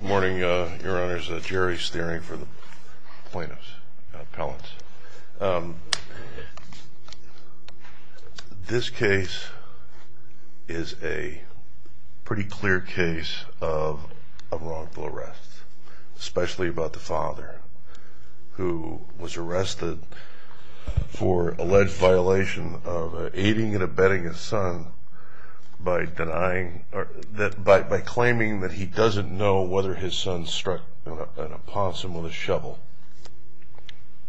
Good morning, Your Honors. Jerry Steering for the Plaintiffs, Collins. This case is a pretty clear case of wrongful arrest, especially about the father who was arrested for alleged violation of aiding and abetting his son by claiming that he doesn't know whether his son struck an opossum with a shovel.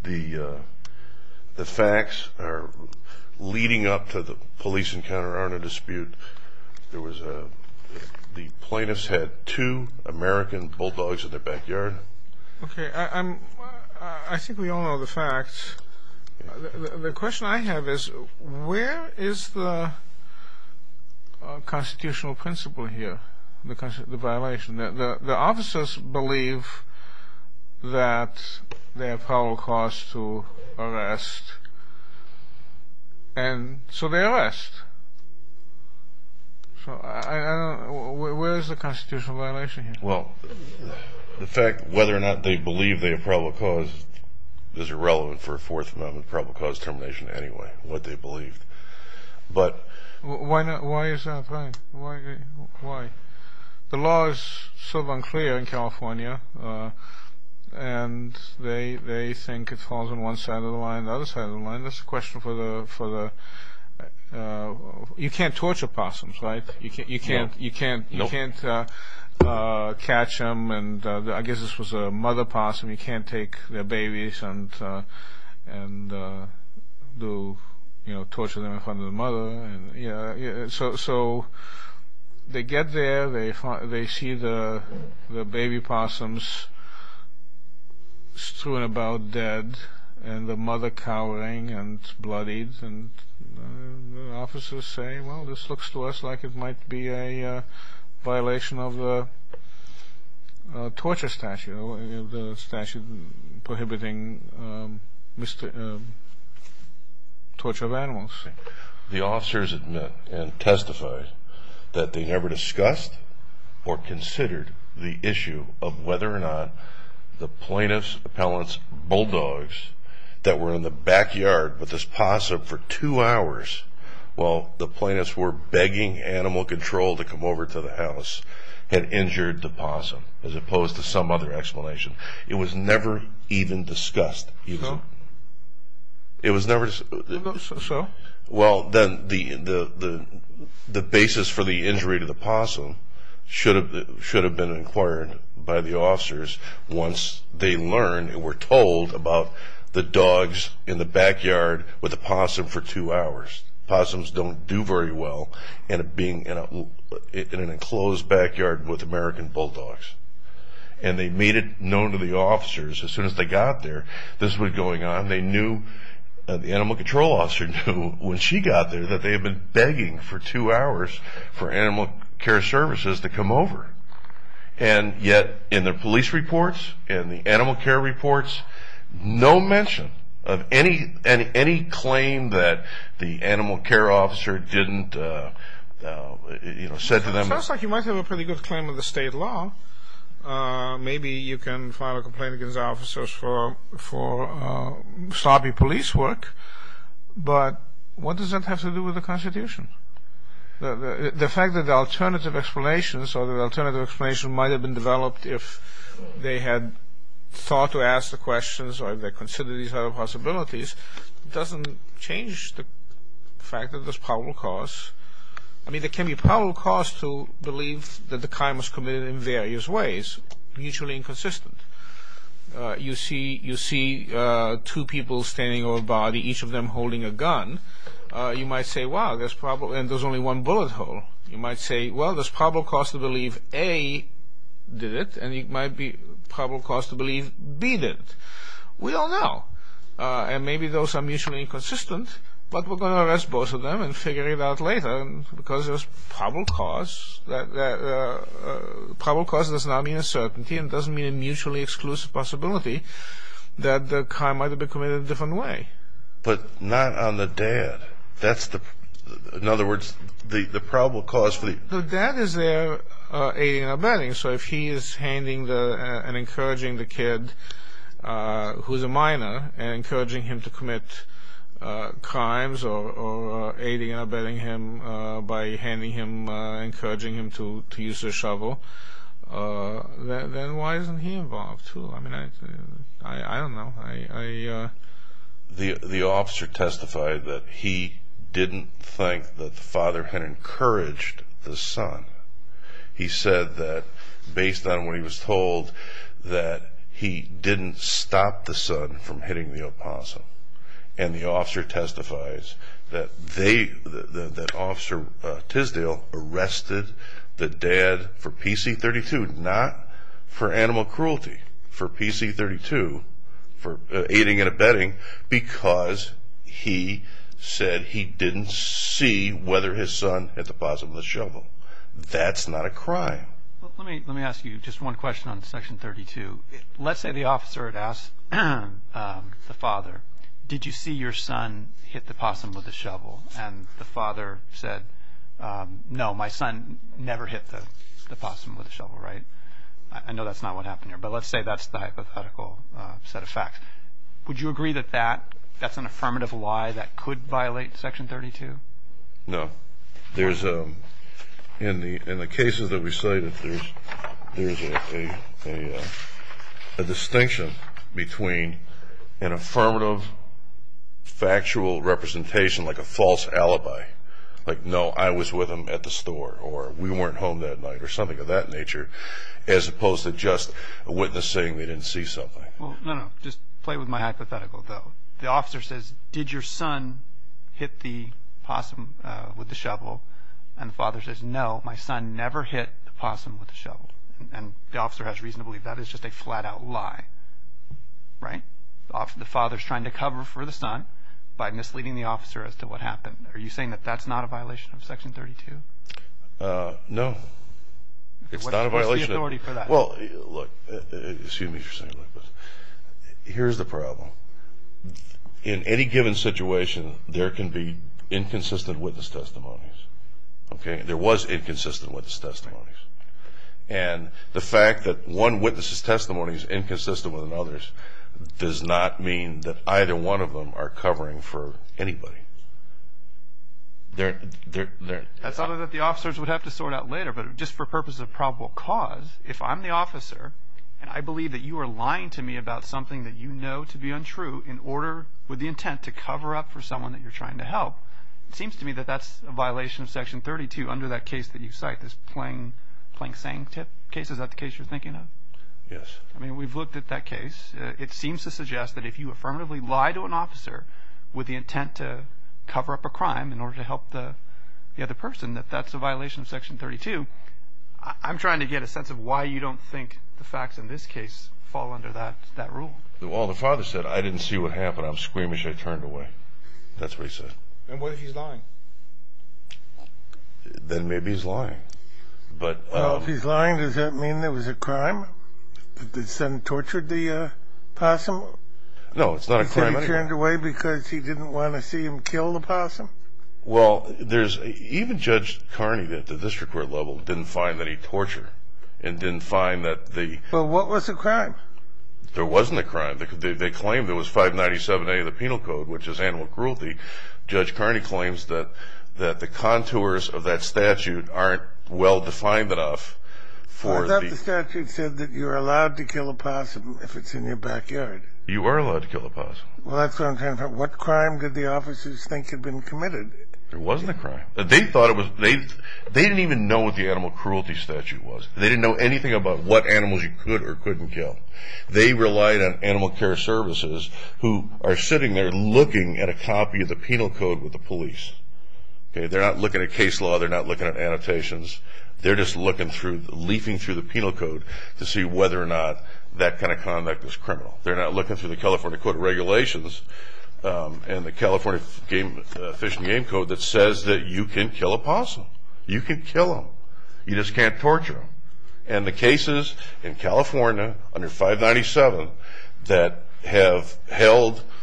The facts leading up to the police encounter aren't a dispute. The plaintiffs had two American bulldogs in their backyard. I think we all know the facts. The question I have is, where is the constitutional principle here, the violation? The officers believe that they have power or cause to arrest, and so they arrest. Where is the constitutional violation here? Well, the fact whether or not they believe they have probable cause is irrelevant for a Fourth Amendment probable cause termination anyway. Why is that? The law is sort of unclear in California, and they think it falls on one side of the line and the other side of the line. You can't torture opossums, right? You can't catch them. I guess this was a mother opossum. You can't take their babies and torture them in front of the mother. So they get there, they see the baby opossums strewn about dead and the mother cowering and bloodied, and the officers say, well, this looks to us like it might be a violation of the torture statute, the statute prohibiting torture of animals. The officers admit and testify that they never discussed or considered the issue of whether or not the plaintiff's appellant's bulldogs that were in the backyard with this opossum for two hours while the plaintiffs were begging animal control to come over to the house had injured the opossum as opposed to some other explanation. It was never even discussed. So? Well, then the basis for the injury to the opossum should have been inquired by the officers once they learned and were told about the dogs in the backyard with the opossum for two hours. Opossums don't do very well in an enclosed backyard with American bulldogs. And they made it known to the officers as soon as they got there, this is what was going on. The animal control officer knew when she got there that they had been begging for two hours for animal care services to come over. And yet in the police reports, in the animal care reports, no mention of any claim that the animal care officer didn't, you know, said to them. It sounds like you might have a pretty good claim in the state law. Maybe you can file a complaint against officers for sloppy police work, but what does that have to do with the Constitution? The fact that the alternative explanations or the alternative explanation might have been developed if they had thought to ask the questions or they considered these other possibilities doesn't change the fact that there's probable cause. I mean, there can be probable cause to believe that the crime was committed in various ways, mutually inconsistent. You see two people standing over a body, each of them holding a gun. You might say, wow, there's probable, and there's only one bullet hole. You might say, well, there's probable cause to believe A did it, and it might be probable cause to believe B did it. We don't know. And maybe those are mutually inconsistent, but we're going to arrest both of them and figure it out later, because there's probable cause that, probable cause does not mean a certainty, and it doesn't mean a mutually exclusive possibility that the crime might have been committed a different way. But not on the dad. That's the, in other words, the probable cause for the... The dad is there aiding and abetting, so if he is handing and encouraging the kid who's a minor and encouraging him to commit crimes or aiding and abetting him by handing him, encouraging him to use the shovel, then why isn't he involved, too? I don't know. The officer testified that he didn't think that the father had encouraged the son. He said that, based on what he was told, that he didn't stop the son from hitting the apostle. And the officer testifies that they, that Officer Tisdale arrested the dad for PC-32, not for animal cruelty, for PC-32, for aiding and abetting, because he said he didn't see whether his son hit the possum with a shovel. That's not a crime. Let me ask you just one question on Section 32. Let's say the officer had asked the father, did you see your son hit the possum with a shovel? And the father said, no, my son never hit the possum with a shovel, right? I know that's not what happened here, but let's say that's the hypothetical set of facts. Would you agree that that's an affirmative lie that could violate Section 32? No. There's a, in the cases that we cited, there's a distinction between an affirmative factual representation, like a false alibi, like, no, I was with him at the store, or we weren't home that night, or something of that nature, as opposed to just a witness saying they didn't see something. Well, no, no, just play with my hypothetical, though. The officer says, did your son hit the possum with the shovel? And the father says, no, my son never hit the possum with a shovel. And the officer has reason to believe that is just a flat-out lie, right? The father's trying to cover for the son by misleading the officer as to what happened. Are you saying that that's not a violation of Section 32? No. It's not a violation. What's the authority for that? Well, look, excuse me for saying that, but here's the problem. In any given situation, there can be inconsistent witness testimonies, okay? There was inconsistent witness testimonies. And the fact that one witness's testimony is inconsistent with another's does not mean that either one of them are covering for anybody. That's something that the officers would have to sort out later. But just for the purpose of probable cause, if I'm the officer and I believe that you are lying to me about something that you know to be untrue in order with the intent to cover up for someone that you're trying to help, it seems to me that that's a violation of Section 32 under that case that you cite, this Plank saying tip case. Is that the case you're thinking of? Yes. I mean, we've looked at that case. It seems to suggest that if you affirmatively lie to an officer with the intent to cover up a crime in order to help the other person, that that's a violation of Section 32. I'm trying to get a sense of why you don't think the facts in this case fall under that rule. Well, the father said, I didn't see what happened. I'm squeamish. I turned away. That's what he said. And what if he's lying? Then maybe he's lying. Well, if he's lying, does that mean it was a crime? That the son tortured the possum? No, it's not a crime. He turned away because he didn't want to see him kill the possum? Well, even Judge Carney at the district court level didn't find any torture and didn't find that the – Well, what was the crime? There wasn't a crime. They claimed there was 597A of the Penal Code, which is animal cruelty. Judge Carney claims that the contours of that statute aren't well defined enough for the – I thought the statute said that you're allowed to kill a possum if it's in your backyard. You are allowed to kill a possum. Well, that's what I'm trying to find. What crime did the officers think had been committed? There wasn't a crime. They thought it was – they didn't even know what the animal cruelty statute was. They didn't know anything about what animals you could or couldn't kill. They relied on animal care services who are sitting there looking at a copy of the Penal Code with the police. They're not looking at case law. They're not looking at annotations. They're just looking through, leafing through the Penal Code to see whether or not that kind of conduct is criminal. They're not looking through the California Code of Regulations and the California Fish and Game Code that says that you can kill a possum. You can kill them. You just can't torture them. And the cases in California under 597 that have held –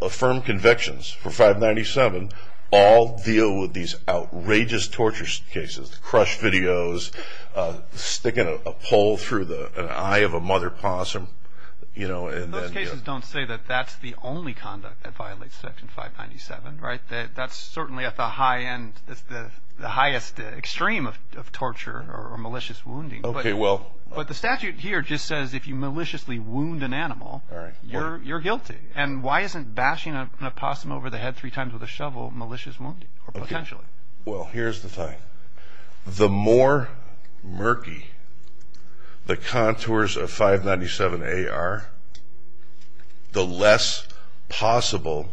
affirmed convictions for 597 all deal with these outrageous torture cases, with crushed videos, sticking a pole through the eye of a mother possum. Those cases don't say that that's the only conduct that violates Section 597, right? That's certainly at the highest extreme of torture or malicious wounding. But the statute here just says if you maliciously wound an animal, you're guilty. And why isn't bashing a possum over the head three times with a shovel malicious wounding or potentially? Well, here's the thing. The more murky the contours of 597A are, the less possible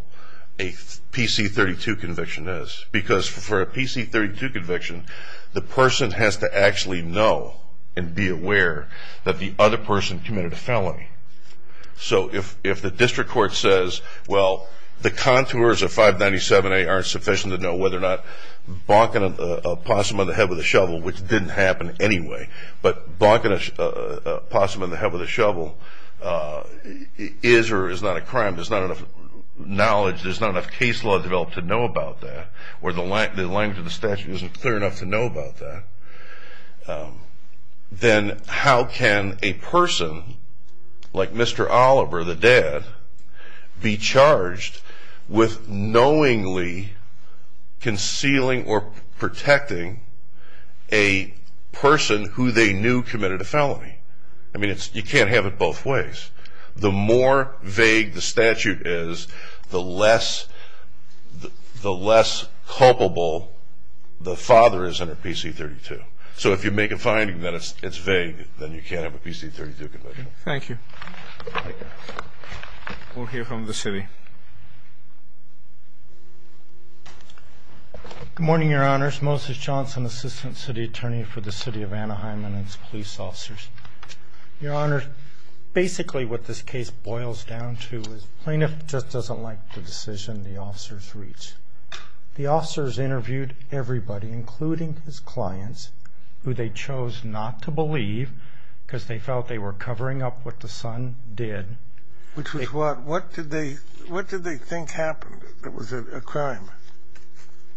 a PC-32 conviction is. Because for a PC-32 conviction, the person has to actually know and be aware that the other person committed a felony. So if the district court says, well, the contours of 597A aren't sufficient to know whether or not bonking a possum on the head with a shovel, which didn't happen anyway, but bonking a possum on the head with a shovel is or is not a crime, there's not enough knowledge, there's not enough case law developed to know about that, or the language of the statute isn't clear enough to know about that, then how can a person like Mr. Oliver, the dad, be charged with knowingly concealing or protecting a person who they knew committed a felony? I mean, you can't have it both ways. The more vague the statute is, the less culpable the father is under PC-32. So if you make a finding that it's vague, then you can't have a PC-32 conviction. Thank you. We'll hear from the city. Good morning, Your Honors. Moses Johnson, Assistant City Attorney for the City of Anaheim and its Police Officers. Your Honors, basically what this case boils down to is the plaintiff just doesn't like the decision the officers reach. The officers interviewed everybody, including his clients, who they chose not to believe because they felt they were covering up what the son did. Which was what? What did they think happened that was a crime?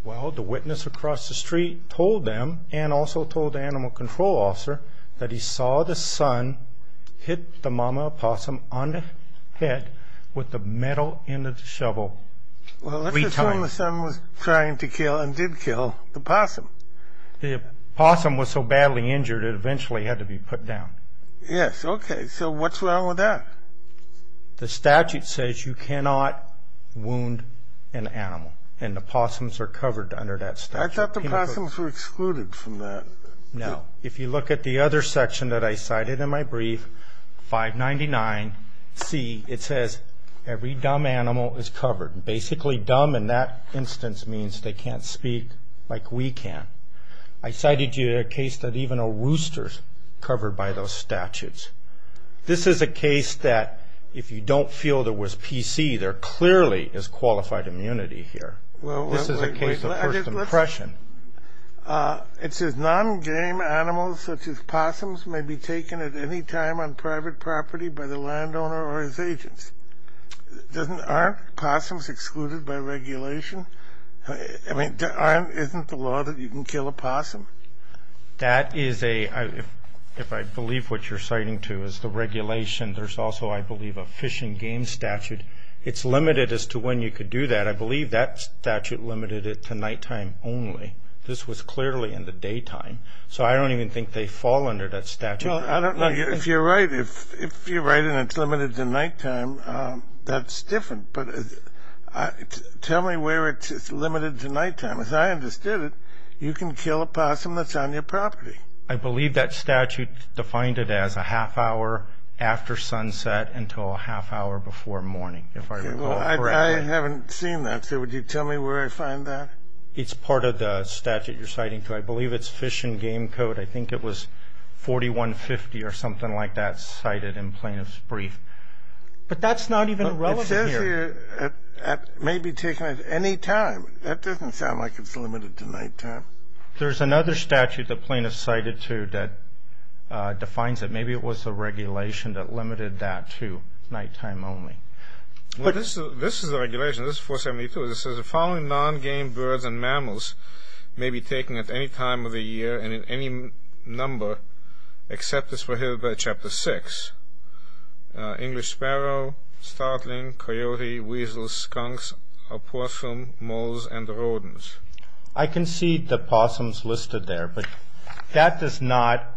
Well, the witness across the street told them, and also told the animal control officer, that he saw the son hit the mama opossum on the head with the metal end of the shovel three times. Well, let's assume the son was trying to kill and did kill the opossum. The opossum was so badly injured it eventually had to be put down. Yes, okay. So what's wrong with that? The statute says you cannot wound an animal, and the opossums are covered under that statute. I thought the opossums were excluded from that. No. If you look at the other section that I cited in my brief, 599C, it says every dumb animal is covered. Basically, dumb in that instance means they can't speak like we can. I cited you a case that even a rooster is covered by those statutes. This is a case that if you don't feel there was PC, there clearly is qualified immunity here. This is a case of first impression. It says non-game animals such as opossums may be taken at any time on private property by the landowner or his agents. Aren't opossums excluded by regulation? I mean, isn't the law that you can kill a opossum? That is a, if I believe what you're citing too, is the regulation. There's also, I believe, a fish and game statute. It's limited as to when you could do that. I believe that statute limited it to nighttime only. This was clearly in the daytime. So I don't even think they fall under that statute. Well, I don't know. If you're right and it's limited to nighttime, that's different. But tell me where it's limited to nighttime. As I understood it, you can kill a opossum that's on your property. I believe that statute defined it as a half hour after sunset until a half hour before morning, if I recall correctly. I haven't seen that. So would you tell me where I find that? It's part of the statute you're citing too. I believe it's fish and game code. I think it was 4150 or something like that cited in plaintiff's brief. But that's not even relevant here. It says here it may be taken at any time. That doesn't sound like it's limited to nighttime. There's another statute the plaintiff cited too that defines it. Maybe it was the regulation that limited that to nighttime only. This is the regulation. This is 472. It says the following non-game birds and mammals may be taken at any time of the year and in any number except as prohibited by Chapter 6. English sparrow, startling, coyote, weasel, skunks, opossum, moles, and rodents. I can see the opossums listed there, but that does not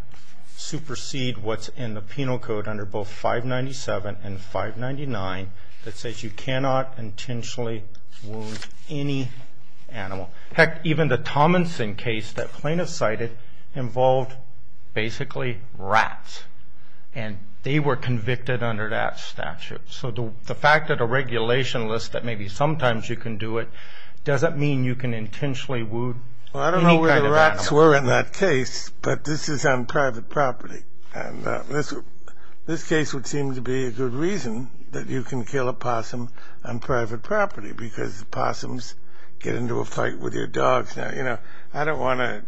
supersede what's in the penal code under both 597 and 599 that says you cannot intentionally wound any animal. Heck, even the Tominson case that plaintiff cited involved basically rats, and they were convicted under that statute. So the fact that a regulation lists that maybe sometimes you can do it doesn't mean you can intentionally wound any kind of animal. I don't know where the rats were in that case, but this is on private property, and this case would seem to be a good reason that you can kill an opossum on private property because the opossums get into a fight with your dogs. I don't want to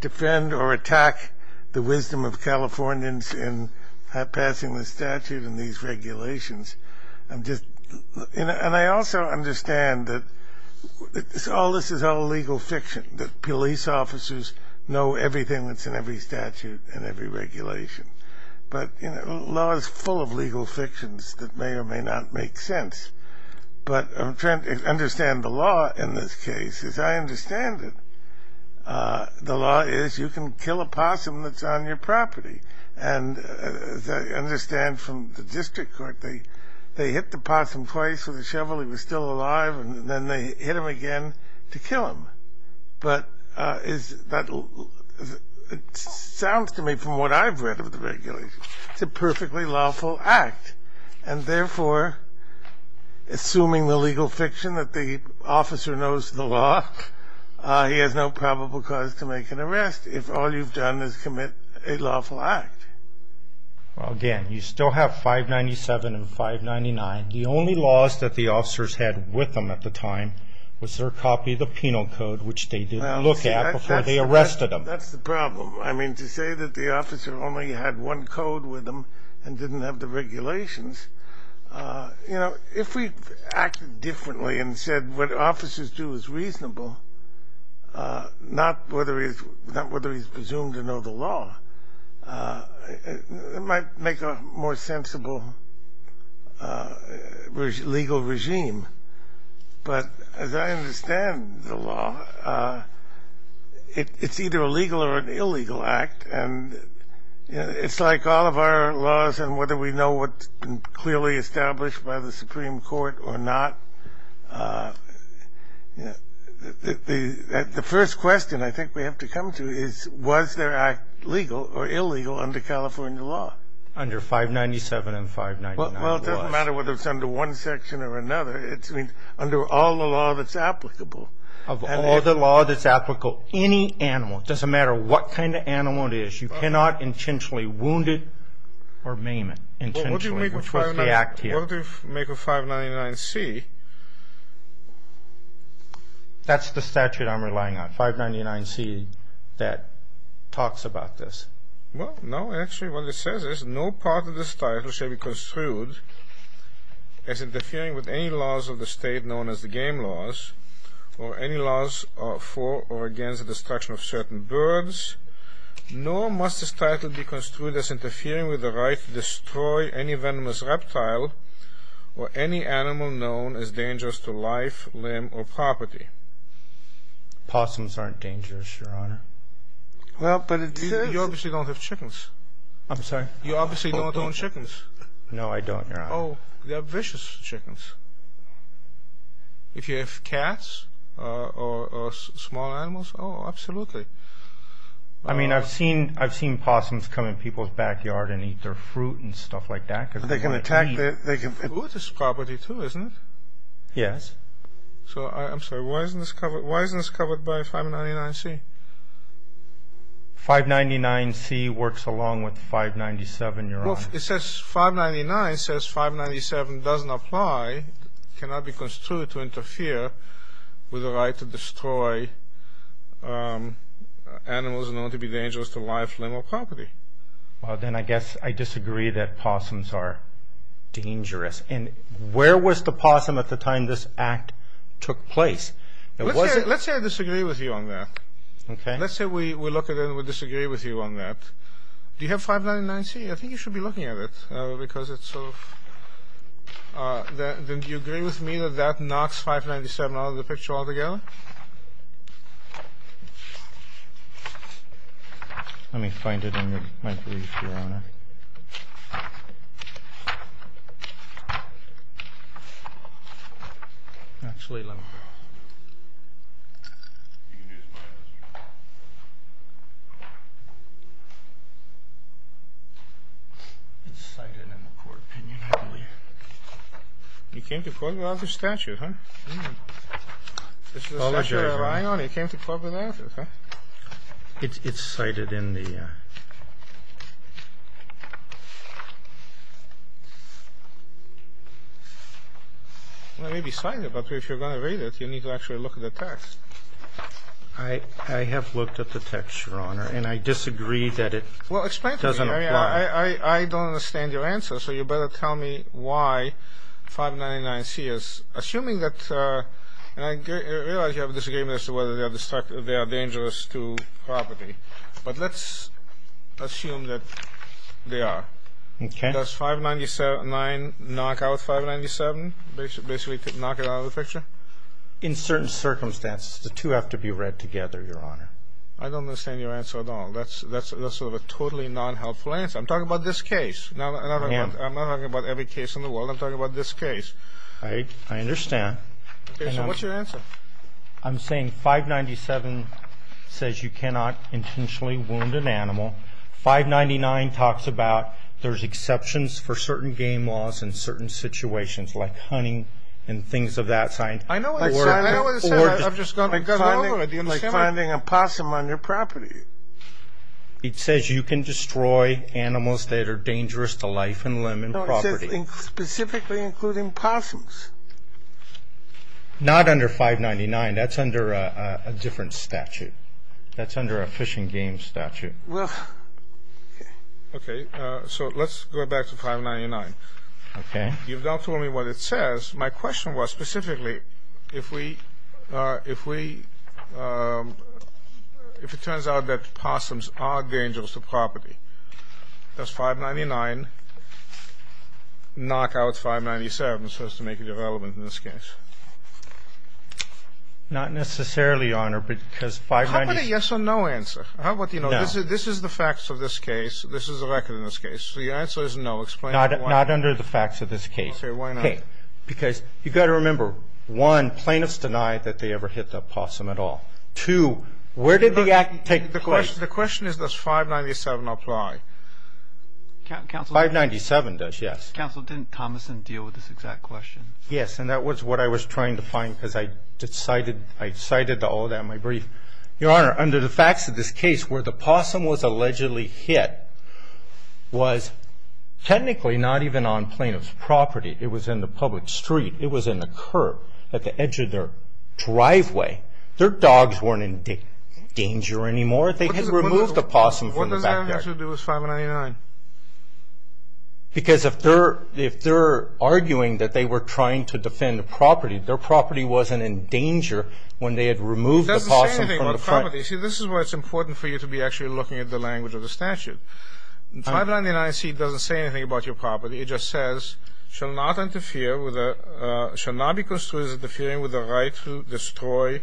defend or attack the wisdom of Californians in passing the statute and these regulations. And I also understand that all this is all legal fiction, that police officers know everything that's in every statute and every regulation. But law is full of legal fictions that may or may not make sense. But I'm trying to understand the law in this case. As I understand it, the law is you can kill an opossum that's on your property. And as I understand from the district court, they hit the opossum twice with a shovel, he was still alive, and then they hit him again to kill him. But it sounds to me from what I've read of the regulations, it's a perfectly lawful act. And therefore, assuming the legal fiction that the officer knows the law, he has no probable cause to make an arrest if all you've done is commit a lawful act. Again, you still have 597 and 599. The only laws that the officers had with them at the time was their copy of the penal code, which they didn't look at before they arrested them. Well, that's the problem. I mean, to say that the officer only had one code with them and didn't have the regulations, you know, if we acted differently and said what officers do is reasonable, not whether he's presumed to know the law, it might make a more sensible legal regime. But as I understand the law, it's either a legal or an illegal act, and it's like all of our laws and whether we know what's clearly established by the Supreme Court or not. The first question I think we have to come to is, was their act legal or illegal under California law? Under 597 and 599 it was. Well, it doesn't matter whether it's under one section or another. It's under all the law that's applicable. Of all the law that's applicable, any animal, it doesn't matter what kind of animal it is, you cannot intentionally wound it or maim it intentionally, which was the act here. But what do you make of 599C? That's the statute I'm relying on, 599C, that talks about this. Well, no, actually what it says is, no part of this title shall be construed as interfering with any laws of the state known as the game laws, or any laws for or against the destruction of certain birds, nor must this title be construed as interfering with the right to destroy any venomous reptile or any animal known as dangerous to life, limb, or property. Possums aren't dangerous, Your Honor. Well, but it says... You obviously don't have chickens. I'm sorry? You obviously don't own chickens. No, I don't, Your Honor. Oh, they're vicious chickens. If you have cats, or small animals, oh, absolutely. I mean, I've seen possums come in people's backyard and eat their fruit and stuff like that. They can attack you. Fruit is property too, isn't it? Yes. So, I'm sorry, why isn't this covered by 599C? 599C works along with 597, Your Honor. Well, it says, 599 says 597 doesn't apply, cannot be construed to interfere with the right to destroy animals known to be dangerous to life, limb, or property. Well, then I guess I disagree that possums are dangerous. And where was the possum at the time this act took place? It wasn't... Let's say I disagree with you on that. Okay. Let's say we look at it and we disagree with you on that. Do you have 599C? I think you should be looking at it because it's sort of... Do you agree with me that that knocks 597 out of the picture altogether? Let me find it in my brief, Your Honor. Actually, let me... It's cited in the court opinion, I believe. You came to court without the statute, huh? This is the statute you're relying on? You came to court without it? It's cited in the... Well, it may be cited, but if you're going to read it, you need to actually look at the text. I have looked at the text, Your Honor, and I disagree that it doesn't apply. Well, explain to me. I mean, I don't understand your answer, so you better tell me why 599C is... Assuming that... And I realize you have a disagreement as to whether they are dangerous to property, but let's assume that they are. Okay. Does 599 knock out 597, basically knock it out of the picture? In certain circumstances, the two have to be read together, Your Honor. I don't understand your answer at all. That's sort of a totally non-helpful answer. I'm talking about this case. I'm not talking about every case in the world. I'm talking about this case. I understand. Okay, so what's your answer? I'm saying 597 says you cannot intentionally wound an animal. 599 talks about there's exceptions for certain game laws in certain situations, like hunting and things of that sort. I know what it says. I've just gone over it. Like finding a possum on your property. It says you can destroy animals that are dangerous to life and limb and property. No, it says specifically including possums. Not under 599. That's under a different statute. That's under a fishing game statute. Well, okay. Okay, so let's go back to 599. Okay. You've now told me what it says. My question was specifically if we, if we, if it turns out that possums are dangerous to property, does 599 knock out 597, so as to make it irrelevant in this case? Not necessarily, Your Honor, because 597 How about a yes or no answer? No. How about, you know, this is the facts of this case. This is the record in this case. The answer is no. Explain why. Not under the facts of this case. Okay, why not? Because you've got to remember, one, plaintiffs deny that they ever hit the possum at all. Two, where did the act take place? The question is, does 597 apply? 597 does, yes. Counsel, didn't Thomason deal with this exact question? Yes, and that was what I was trying to find because I cited all of that in my brief. Your Honor, under the facts of this case, where the possum was allegedly hit was technically not even on plaintiff's property. It was in the public street. It was in the curb at the edge of their driveway. Their dogs weren't in danger anymore. They had removed the possum from the backyard. What does that answer do with 599? Because if they're arguing that they were trying to defend the property, their property wasn't in danger when they had removed the possum from the property. It doesn't say anything about the property. See, this is why it's important for you to be actually looking at the language of the statute. 599C doesn't say anything about your property. It just says, shall not be construed as interfering with the right to destroy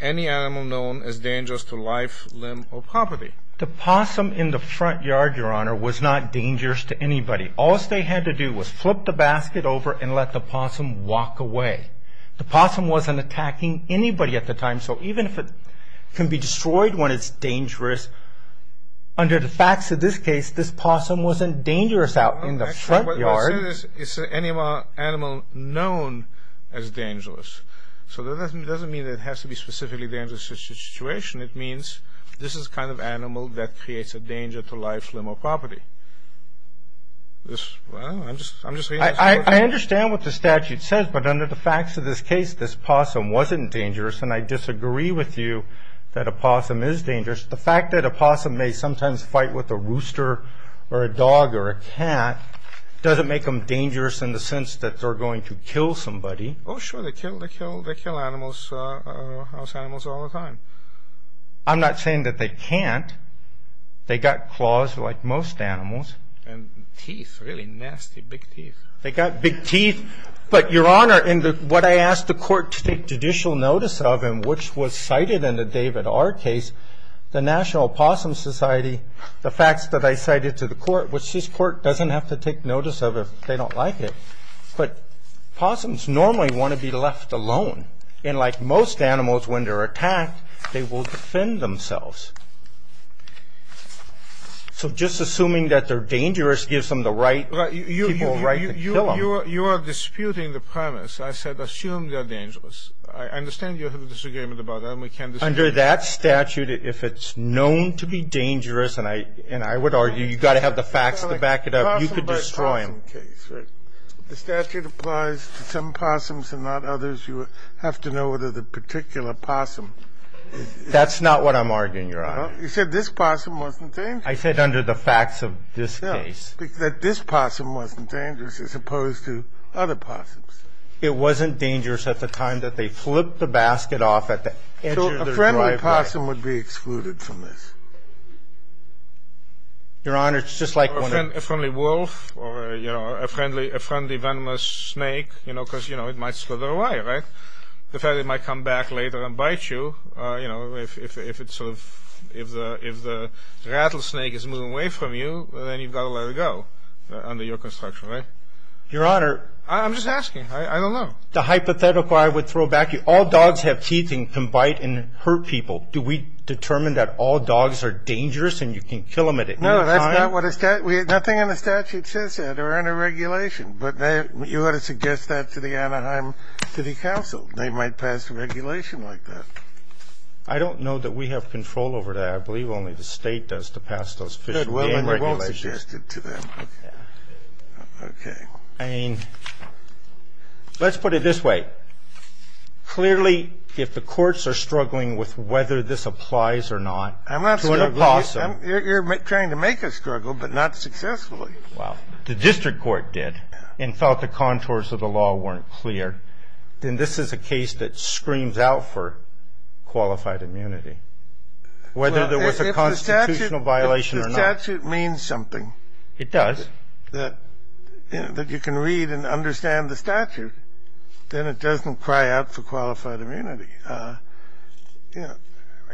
any animal known as dangerous to life, limb, or property. The possum in the front yard, Your Honor, was not dangerous to anybody. All they had to do was flip the basket over and let the possum walk away. The possum wasn't attacking anybody at the time, so even if it can be destroyed when it's dangerous, under the facts of this case, this possum wasn't dangerous out in the front yard. It's an animal known as dangerous. So that doesn't mean that it has to be specifically dangerous situation. It means this is the kind of animal that creates a danger to life, limb, or property. I don't know. I'm just reading the statute. I understand what the statute says, but under the facts of this case, this possum wasn't dangerous, and I disagree with you that a possum is dangerous. The fact that a possum may sometimes fight with a rooster or a dog or a cat doesn't make them dangerous in the sense that they're going to kill somebody. Oh, sure. They kill. They kill animals, house animals, all the time. I'm not saying that they can't. They got claws like most animals. And teeth, really nasty, big teeth. They got big teeth. But, Your Honor, in what I asked the court to take judicial notice of and which was cited in the David R. case, the National Possum Society, the facts that I cited to the court, which this court doesn't have to take notice of if they don't like it, but possums normally want to be left alone. And like most animals, when they're attacked, they will defend themselves. So just assuming that they're dangerous gives them the right to kill them. You are disputing the premise. I said assume they're dangerous. I understand you have a disagreement about that, and we can't disagree. Under that statute, if it's known to be dangerous, and I would argue you've got to have the facts to back it up, you could destroy them. That's not what I'm arguing, Your Honor. You said this possum wasn't dangerous. I said under the facts of this case. That this possum wasn't dangerous as opposed to other possums. It wasn't dangerous at the time that they flipped the basket off at the edge of their driveway. So a friendly possum would be excluded from this? Your Honor, it's just like when a – Or a friendly wolf or a young wolf. Or a friendly venomous snake, because it might slither away, right? The fact that it might come back later and bite you, if the rattlesnake is moving away from you, then you've got to let it go under your construction, right? Your Honor, I'm just asking. I don't know. The hypothetical I would throw back to you, all dogs have teeth and can bite and hurt people. Do we determine that all dogs are dangerous and you can kill them at any time? No, that's not what – nothing in the statute says that or under regulation. But you ought to suggest that to the Anaheim City Council. They might pass a regulation like that. I don't know that we have control over that. I believe only the State does to pass those fish and game regulations. Well, then we won't suggest it to them. Okay. I mean, let's put it this way. Clearly, if the courts are struggling with whether this applies or not to a possum – You're trying to make us struggle, but not successfully. Well, if the district court did and felt the contours of the law weren't clear, then this is a case that screams out for qualified immunity, whether there was a constitutional violation or not. If the statute means something. It does. That you can read and understand the statute, then it doesn't cry out for qualified immunity.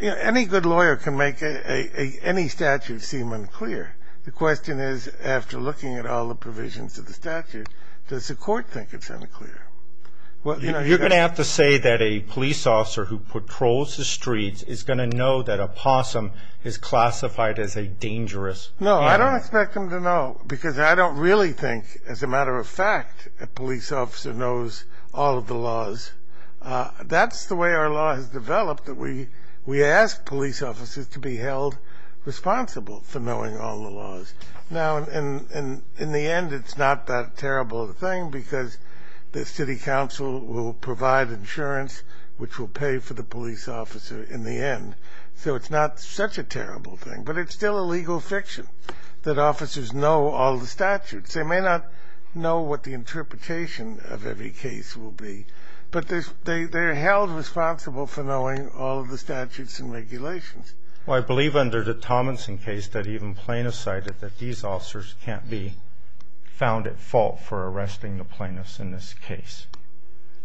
Any good lawyer can make any statute seem unclear. The question is, after looking at all the provisions of the statute, does the court think it's unclear? You're going to have to say that a police officer who patrols the streets is going to know that a possum is classified as a dangerous animal. No, I don't expect them to know because I don't really think, as a matter of fact, a police officer knows all of the laws. That's the way our law has developed. We ask police officers to be held responsible for knowing all the laws. Now, in the end, it's not that terrible a thing because the city council will provide insurance, which will pay for the police officer in the end. So it's not such a terrible thing, but it's still a legal fiction that officers know all the statutes. They may not know what the interpretation of every case will be, but they're held responsible for knowing all of the statutes and regulations. Well, I believe under the Tomlinson case that even plaintiffs cited that these officers can't be found at fault for arresting the plaintiffs in this case.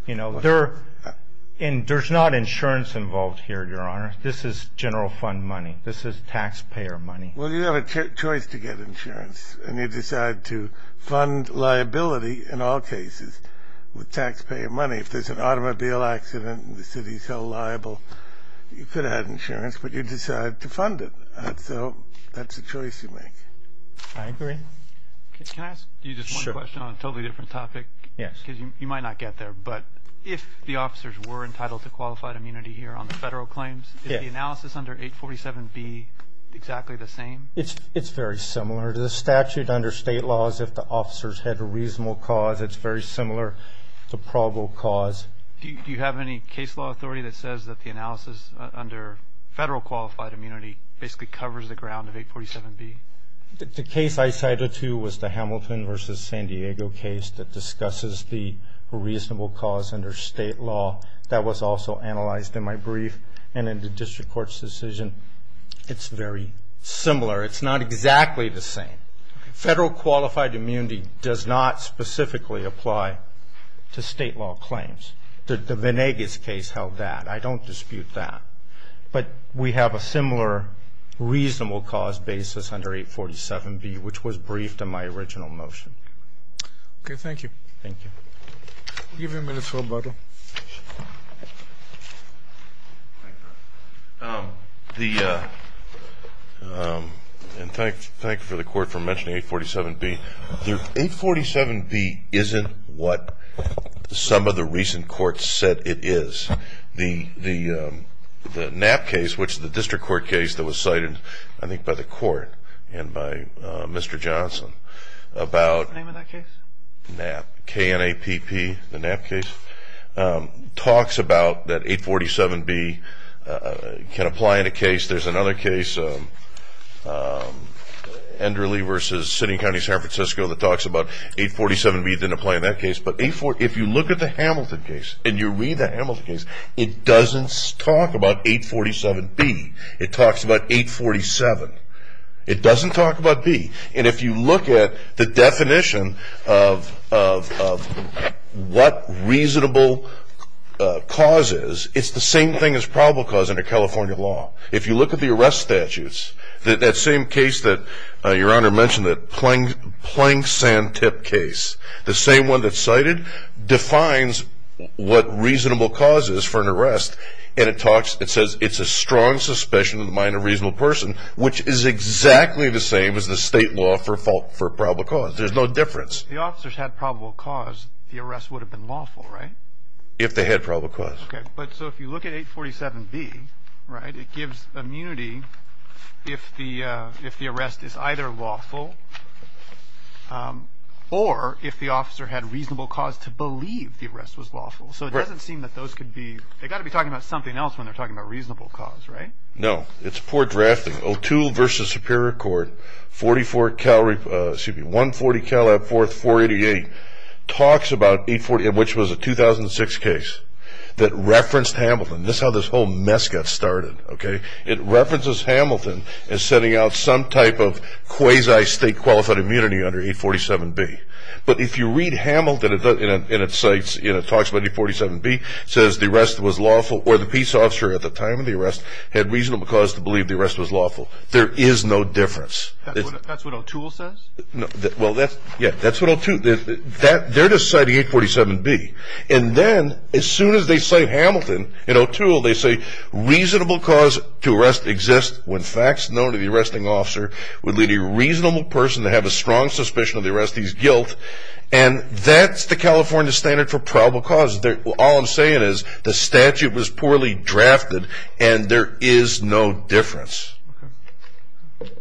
You know, there's not insurance involved here, Your Honor. This is general fund money. This is taxpayer money. Well, you have a choice to get insurance, and you decide to fund liability in all cases with taxpayer money. If there's an automobile accident and the city's held liable, you could add insurance, but you decide to fund it. So that's a choice you make. I agree. Can I ask you just one question on a totally different topic? Yes. Because you might not get there, but if the officers were entitled to qualified immunity here on the federal claims, is the analysis under 847B exactly the same? It's very similar to the statute under state laws. If the officers had a reasonable cause, it's very similar to probable cause. Do you have any case law authority that says that the analysis under federal qualified immunity basically covers the ground of 847B? The case I cited to was the Hamilton v. San Diego case that discusses the reasonable cause under state law. That was also analyzed in my brief and in the district court's decision. It's very similar. It's not exactly the same. Federal qualified immunity does not specifically apply to state law claims. The Venegas case held that. I don't dispute that. But we have a similar reasonable cause basis under 847B, which was briefed in my original motion. Okay. Thank you. Thank you. I'll give you a minute for rebuttal. Thank you. Thank you for the court for mentioning 847B. 847B isn't what some of the recent courts said it is. The Knapp case, which is the district court case that was cited, I think, by the court and by Mr. Johnson about Knapp, K-N-A-P-P, the Knapp case, talks about that 847B can apply in a case. There's another case, Enderly v. City and County San Francisco, that talks about 847B didn't apply in that case. But if you look at the Hamilton case and you read the Hamilton case, it doesn't talk about 847B. It talks about 847. It doesn't talk about B. And if you look at the definition of what reasonable cause is, it's the same thing as probable cause under California law. If you look at the arrest statutes, that same case that Your Honor mentioned, the Plank-Sand-Tip case, the same one that's cited, defines what reasonable cause is for an arrest, and it says it's a strong suspicion in the mind of a reasonable person, which is exactly the same as the state law for probable cause. There's no difference. If the officers had probable cause, the arrest would have been lawful, right? If they had probable cause. Okay, but so if you look at 847B, right, it gives immunity if the arrest is either lawful or if the officer had reasonable cause to believe the arrest was lawful. So it doesn't seem that those could be, they've got to be talking about something else when they're talking about reasonable cause, right? No. It's poor drafting. O'Toole v. Superior Court, 140 Calab 4th, 488, talks about 840, which was a 2006 case that referenced Hamilton. This is how this whole mess got started, okay? It references Hamilton as setting out some type of quasi-state qualified immunity under 847B. But if you read Hamilton in its sites, it talks about 847B, says the arrest was lawful or the peace officer at the time of the arrest had reasonable cause to believe the arrest was lawful. There is no difference. That's what O'Toole says? Well, yeah, that's what O'Toole, they're just citing 847B. And then as soon as they cite Hamilton in O'Toole, they say reasonable cause to arrest exists when facts known to the arresting officer would lead a reasonable person to have a strong suspicion of the arrestee's guilt. And that's the California standard for probable cause. All I'm saying is the statute was poorly drafted and there is no difference. Okay.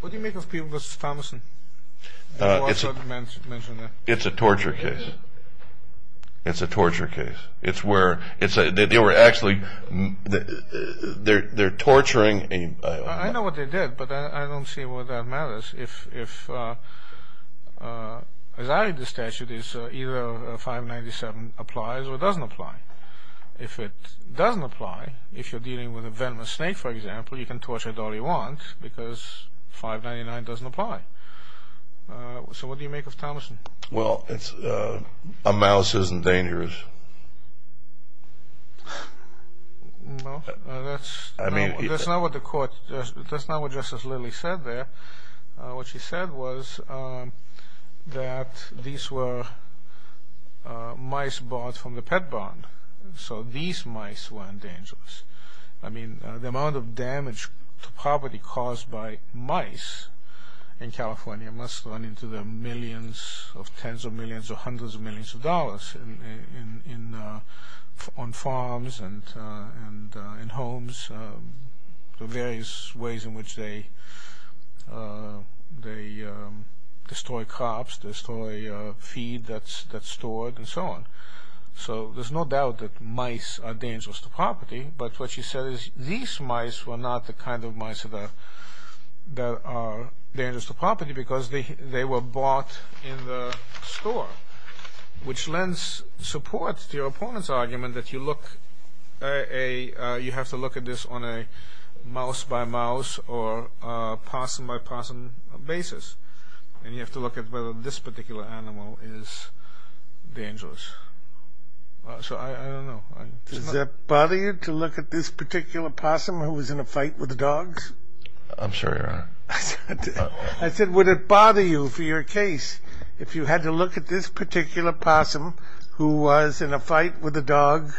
What do you make of P. Thomason? It's a torture case. It's a torture case. It's where they were actually, they're torturing. I know what they did, but I don't see why that matters. As I read the statute, it's either 597 applies or doesn't apply. If it doesn't apply, if you're dealing with a venomous snake, for example, you can torture it all you want because 599 doesn't apply. So what do you make of Thomason? Well, a mouse isn't dangerous. Well, that's not what the court, that's not what Justice Lilly said there. What she said was that these were mice bought from the pet barn, so these mice weren't dangerous. I mean, the amount of damage to property caused by mice in California must run into the millions of tens of millions or hundreds of millions of dollars on farms and in homes, the various ways in which they destroy crops, destroy feed that's stored and so on. So there's no doubt that mice are dangerous to property, but what she said is these mice were not the kind of mice that are dangerous to property because they were bought in the store, which lends support to your opponent's argument that you have to look at this on a mouse-by-mouse or possum-by-possum basis, and you have to look at whether this particular animal is dangerous. So I don't know. Does that bother you to look at this particular possum who was in a fight with the dogs? I'm sorry, Your Honor. I said, would it bother you for your case if you had to look at this particular possum who was in a fight with the dogs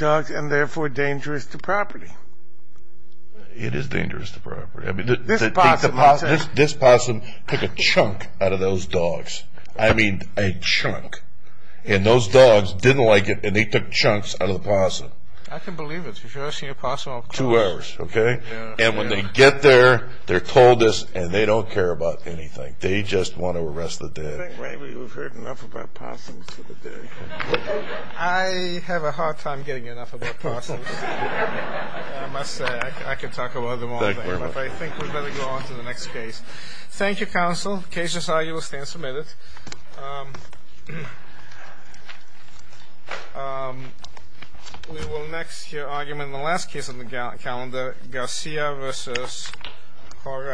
and therefore dangerous to property? It is dangerous to property. This possum took a chunk out of those dogs. I mean, a chunk. And those dogs didn't like it, and they took chunks out of the possum. I can believe it. You've never seen a possum? Two hours, okay? And when they get there, they're told this, and they don't care about anything. They just want to arrest the dead. I think maybe we've heard enough about possums for the day. I have a hard time getting enough about possums. I must say, I could talk about them all day. But I think we'd better go on to the next case. Thank you, counsel. The case as argued will stand submitted. We will next hear argument in the last case on the calendar, Garcia v. Corral.